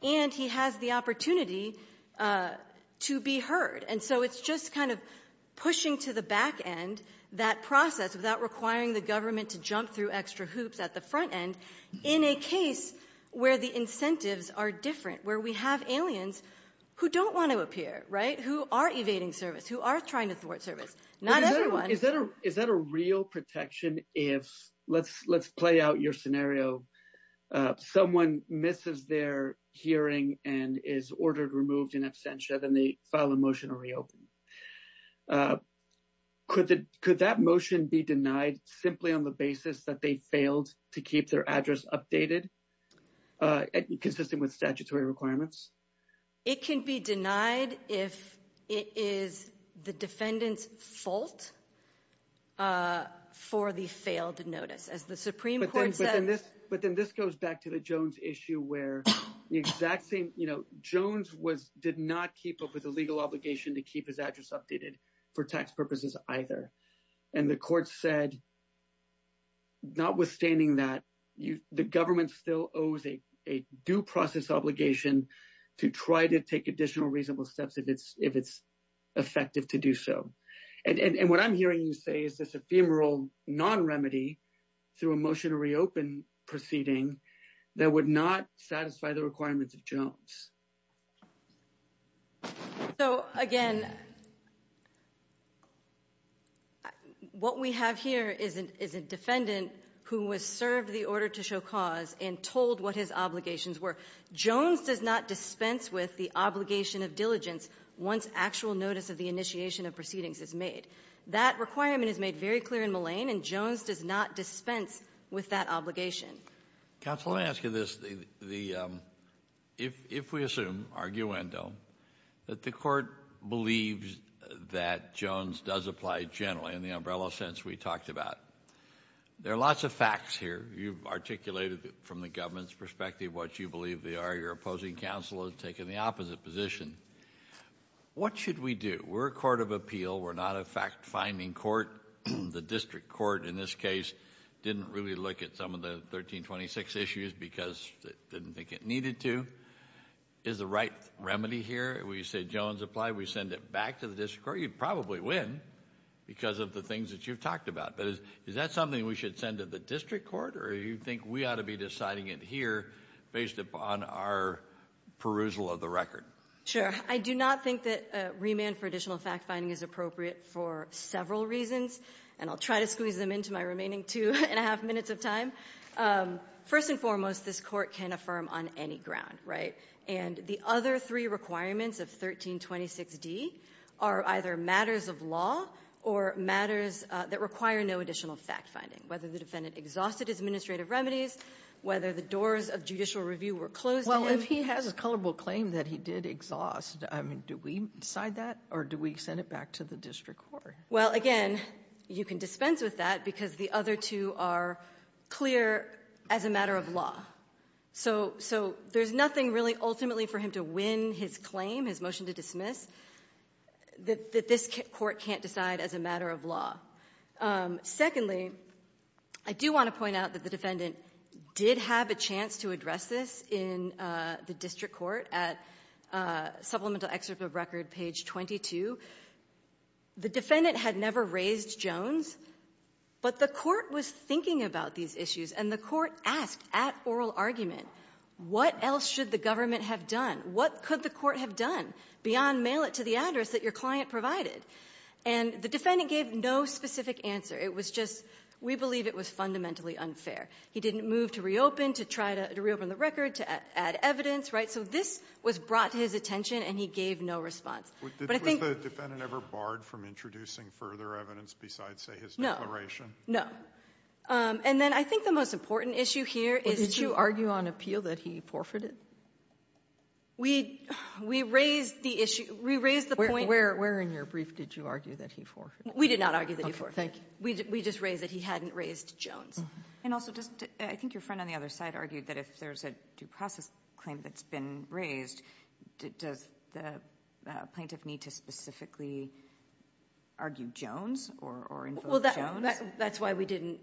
And he has the opportunity to be heard. And so it's just kind of pushing to the back end that process without requiring the government to jump through extra hoops at the front end in a case where the incentives are different, where we have aliens who don't want to appear. Right? Who are evading service, who are trying to thwart service. Not everyone. Is that a real protection if, let's play out your scenario. Someone misses their hearing and is ordered removed in absentia. Then they file a motion to reopen. Could that motion be denied simply on the basis that they failed to keep their address updated, consistent with statutory requirements? It can be denied if it is the defendant's fault for the failed notice. As the Supreme Court says. But then this goes back to the Jones issue where the exact same, you know, Jones did not keep up with the legal obligation to keep his address updated for tax purposes either. And the court said, notwithstanding that, the government still owes a due process obligation to try to take additional reasonable steps if it's effective to do so. And what I'm hearing you say is this ephemeral non-remedy through a motion to reopen proceeding that would not satisfy the requirements of Jones. So, again, what we have here is a defendant who was served the order to show cause and told what his obligations were. Jones does not dispense with the obligation of diligence once actual notice of the initiation of proceedings is made. That requirement is made very clear in Mullane, and Jones does not dispense with that obligation. Counsel, let me ask you this. If we assume, arguendo, that the court believes that Jones does apply generally, in the umbrella sense we talked about, there are lots of facts here. You've articulated from the government's perspective what you believe they are. Your opposing counsel has taken the opposite position. What should we do? We're a court of appeal. We're not a fact-finding court. The district court in this case didn't really look at some of the 1326 issues because it didn't think it needed to. Is the right remedy here? We say Jones applied. We send it back to the district court. You'd probably win because of the things that you've talked about. But is that something we should send to the district court, or do you think we ought to be deciding it here based upon our perusal of the record? Sure. I do not think that remand for additional fact-finding is appropriate for several reasons, and I'll try to squeeze them into my remaining two and a half minutes of time. First and foremost, this Court can affirm on any ground, right? And the other three requirements of 1326d are either matters of law or matters that require no additional fact-finding, whether the defendant exhausted his administrative remedies, whether the doors of judicial review were closed to him. But he has a culpable claim that he did exhaust. I mean, do we decide that, or do we send it back to the district court? Well, again, you can dispense with that because the other two are clear as a matter of law. So there's nothing really ultimately for him to win his claim, his motion to dismiss, that this Court can't decide as a matter of law. Secondly, I do want to point out that the defendant did have a chance to address this in the district court at Supplemental Excerpt of Record, page 22. The defendant had never raised Jones, but the court was thinking about these issues, and the court asked at oral argument, what else should the government have done? What could the court have done beyond mail it to the address that your client provided? And the defendant gave no specific answer. It was just, we believe it was fundamentally unfair. He didn't move to reopen, to try to reopen the record, to add evidence, right? So this was brought to his attention, and he gave no response. But I think the ---- But was the defendant ever barred from introducing further evidence besides, say, his declaration? No. No. And then I think the most important issue here is to ---- Well, did you argue on appeal that he forfeited? We raised the issue. We raised the point ---- Where in your brief did you argue that he forfeited? We did not argue that he forfeited. Okay. Thank you. We just raised that he hadn't raised Jones. And also, does the ---- I think your friend on the other side argued that if there's a due process claim that's been raised, does the plaintiff need to specifically argue Jones or invoke Jones? Well, that's why we didn't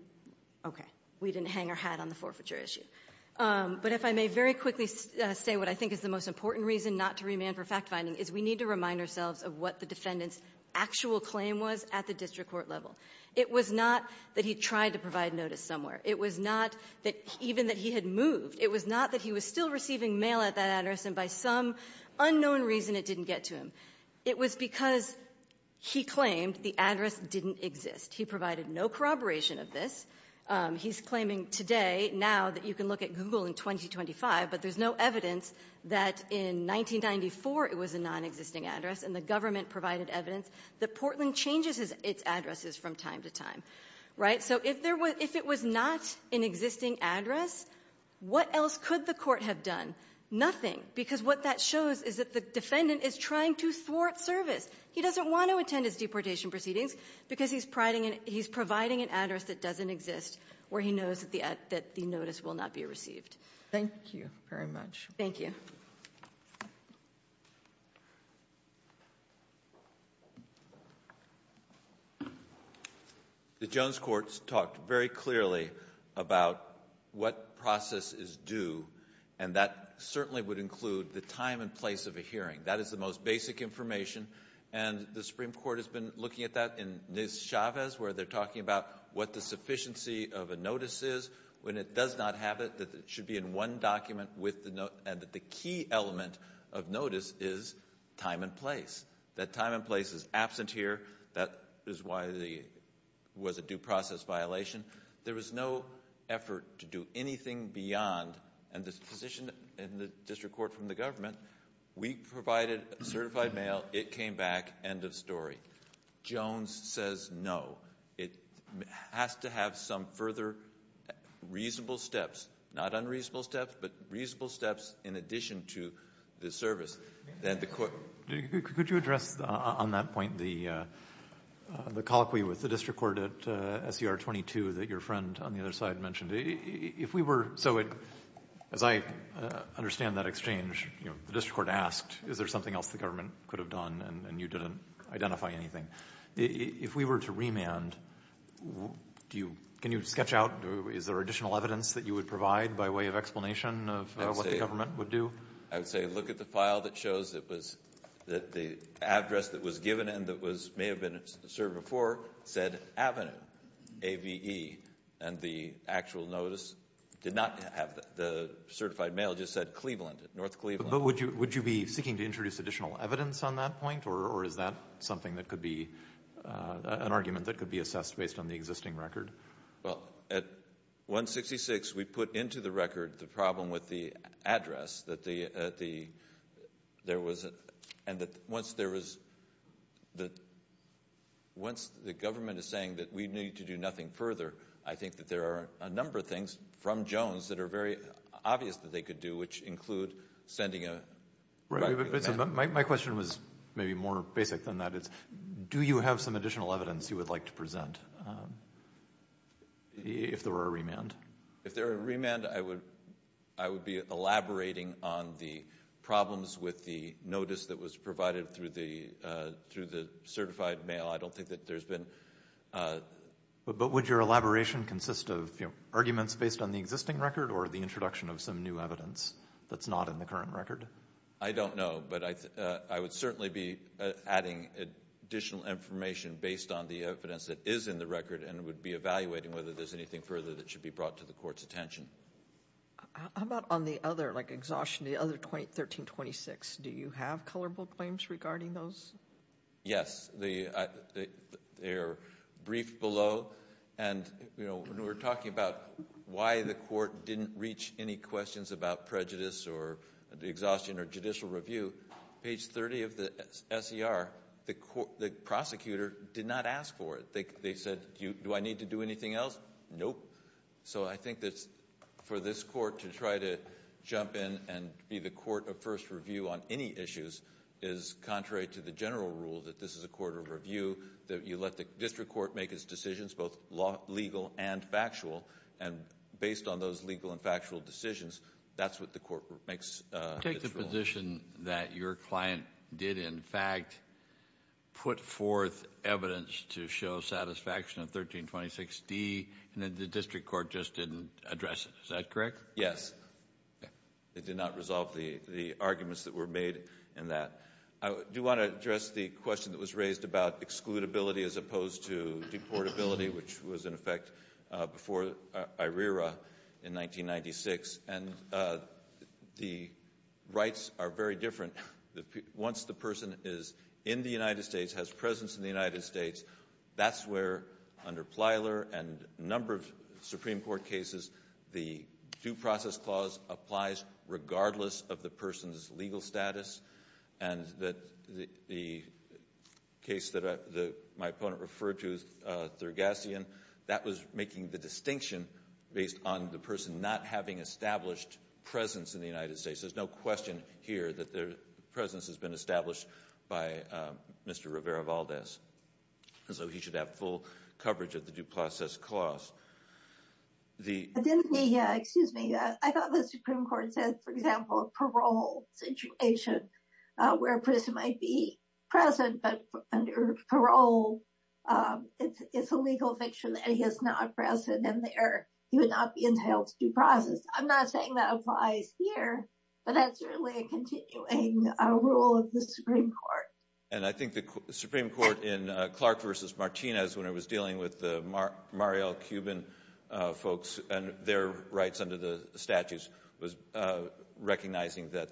---- Okay. We didn't hang our hat on the forfeiture issue. But if I may very quickly say what I think is the most important reason not to remand for fact-finding is we need to remind ourselves of what the defendant's actual claim was at the district court level. It was not that he tried to provide notice somewhere. It was not that even that he had moved. It was not that he was still receiving mail at that address, and by some unknown reason it didn't get to him. It was because he claimed the address didn't exist. He provided no corroboration of this. He's claiming today now that you can look at Google in 2025, but there's no evidence that in 1994 it was a nonexisting address, and the government provided evidence that Portland changes its addresses from time to time. Right? So if it was not an existing address, what else could the court have done? Nothing. Because what that shows is that the defendant is trying to thwart service. He doesn't want to attend his deportation proceedings because he's providing an address that doesn't exist where he knows that the notice will not be received. Thank you very much. Thank you. The Jones court talked very clearly about what process is due, and that certainly would include the time and place of a hearing. That is the most basic information, and the Supreme Court has been looking at that in Ms. Chavez where they're talking about what the sufficiency of a notice is when it does not have it, that it should be in one document and that the key element of notice is time and place. That time and place is absent here. That is why it was a due process violation. There was no effort to do anything beyond, and this position in the district court from the government, we provided certified mail, it came back, end of story. Jones says no. It has to have some further reasonable steps. Not unreasonable steps, but reasonable steps in addition to the service that the court ---- Could you address on that point the colloquy with the district court at SER 22 that your friend on the other side mentioned? If we were to ---- as I understand that exchange, the district court asked is there something else the government could have done, and you didn't identify anything. If we were to remand, do you ---- can you sketch out, is there additional evidence that you would provide by way of explanation of what the government would do? I would say look at the file that shows that the address that was given and that may have been served before said Avenue, A-V-E, and the actual notice did not have that. The certified mail just said Cleveland, North Cleveland. But would you be seeking to introduce additional evidence on that point, or is that something that could be an argument that could be assessed based on the existing record? Well, at 166, we put into the record the problem with the address that the ---- there was a ---- and that once there was the ---- once the government is saying that we need to do nothing further, I think that there are a number of things from Jones that are very obvious that they could do, which include sending a ---- My question was maybe more basic than that. Do you have some additional evidence you would like to present if there were a remand? If there were a remand, I would be elaborating on the problems with the notice that was provided through the certified mail. I don't think that there's been ---- But would your elaboration consist of arguments based on the existing record or the introduction of some new evidence that's not in the current record? I don't know, but I would certainly be adding additional information based on the evidence that is in the record and would be evaluating whether there's anything further that should be brought to the court's attention. How about on the other, like exhaustion, the other 1326? Do you have colorable claims regarding those? Yes. They are briefed below. And, you know, when we were talking about why the court didn't reach any questions about prejudice or exhaustion or judicial review, page 30 of the SER, the prosecutor did not ask for it. They said, do I need to do anything else? Nope. So I think that for this court to try to jump in and be the court of first review on any issues is contrary to the general rule that this is a court of review, that you let the district court make its decisions, both legal and factual, and based on those legal and factual decisions, that's what the court makes its ruling. You take the position that your client did, in fact, put forth evidence to show satisfaction of 1326D and then the district court just didn't address it. Is that correct? Yes. Okay. It did not resolve the arguments that were made in that. I do want to address the question that was raised about excludability as opposed to deportability, which was in effect before IRERA in 1996. And the rights are very different. Once the person is in the United States, has presence in the United States, that's where, under Plyler and a number of Supreme Court cases, the due process clause applies regardless of the person's legal status. And the case that my opponent referred to, Thurgacian, that was making the distinction based on the person not having established presence in the United States. There's no question here that their presence has been established by Mr. Rivera-Valdez. So he should have full coverage of the due process clause. Excuse me. I thought the Supreme Court said, for example, a parole situation where a person might be present, but under parole it's a legal fiction that he is not present and he would not be entitled to due process. I'm not saying that applies here, but that's really a continuing rule of the Supreme Court. And I think the Supreme Court in Clark v. Martinez, when it was dealing with the Mariel Cuban folks and their rights under the statutes, was recognizing that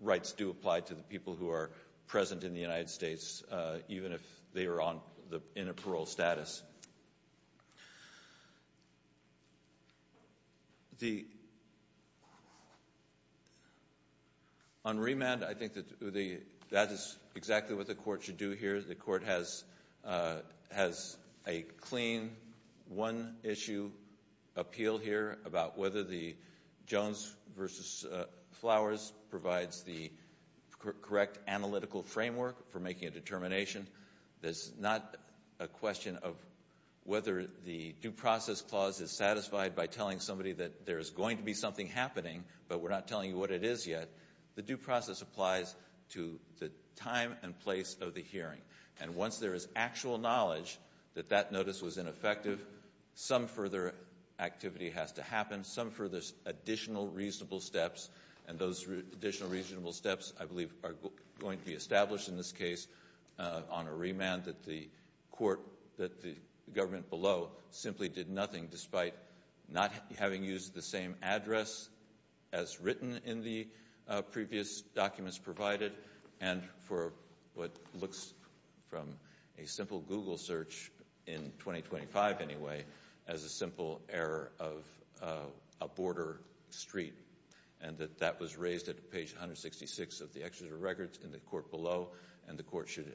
rights do apply to the people who are present in the United States, even if they are in a parole status. On remand, I think that is exactly what the Court should do here. The Court has a clean one-issue appeal here about whether the Jones v. Flowers provides the correct analytical framework for making a determination. It's not a question of whether the due process clause is satisfied by telling somebody that there is going to be something happening, but we're not telling you what it is yet. The due process applies to the time and place of the hearing. And once there is actual knowledge that that notice was ineffective, some further activity has to happen, some further additional reasonable steps, and those additional reasonable steps I believe are going to be established in this case on a remand that the government below simply did nothing, despite not having used the same address as written in the previous documents provided and for what looks from a simple Google search, in 2025 anyway, as a simple error of a border street, and that that was raised at page 166 of the Executive Records in the Court below, and the Court should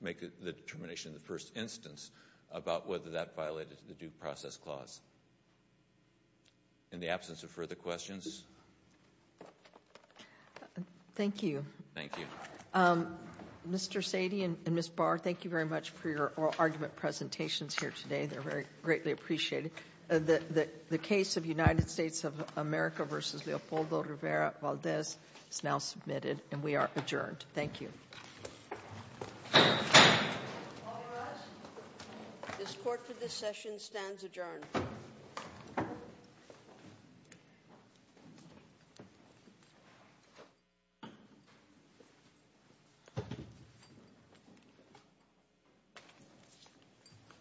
make the determination in the first instance about whether that violated the due process clause. In the absence of further questions? Thank you. Thank you. Mr. Sady and Ms. Barr, thank you very much for your oral argument presentations here today. They're greatly appreciated. The case of United States of America v. Leopoldo Rivera Valdez is now submitted, and we are adjourned. Thank you. All rise. This Court for this session stands adjourned.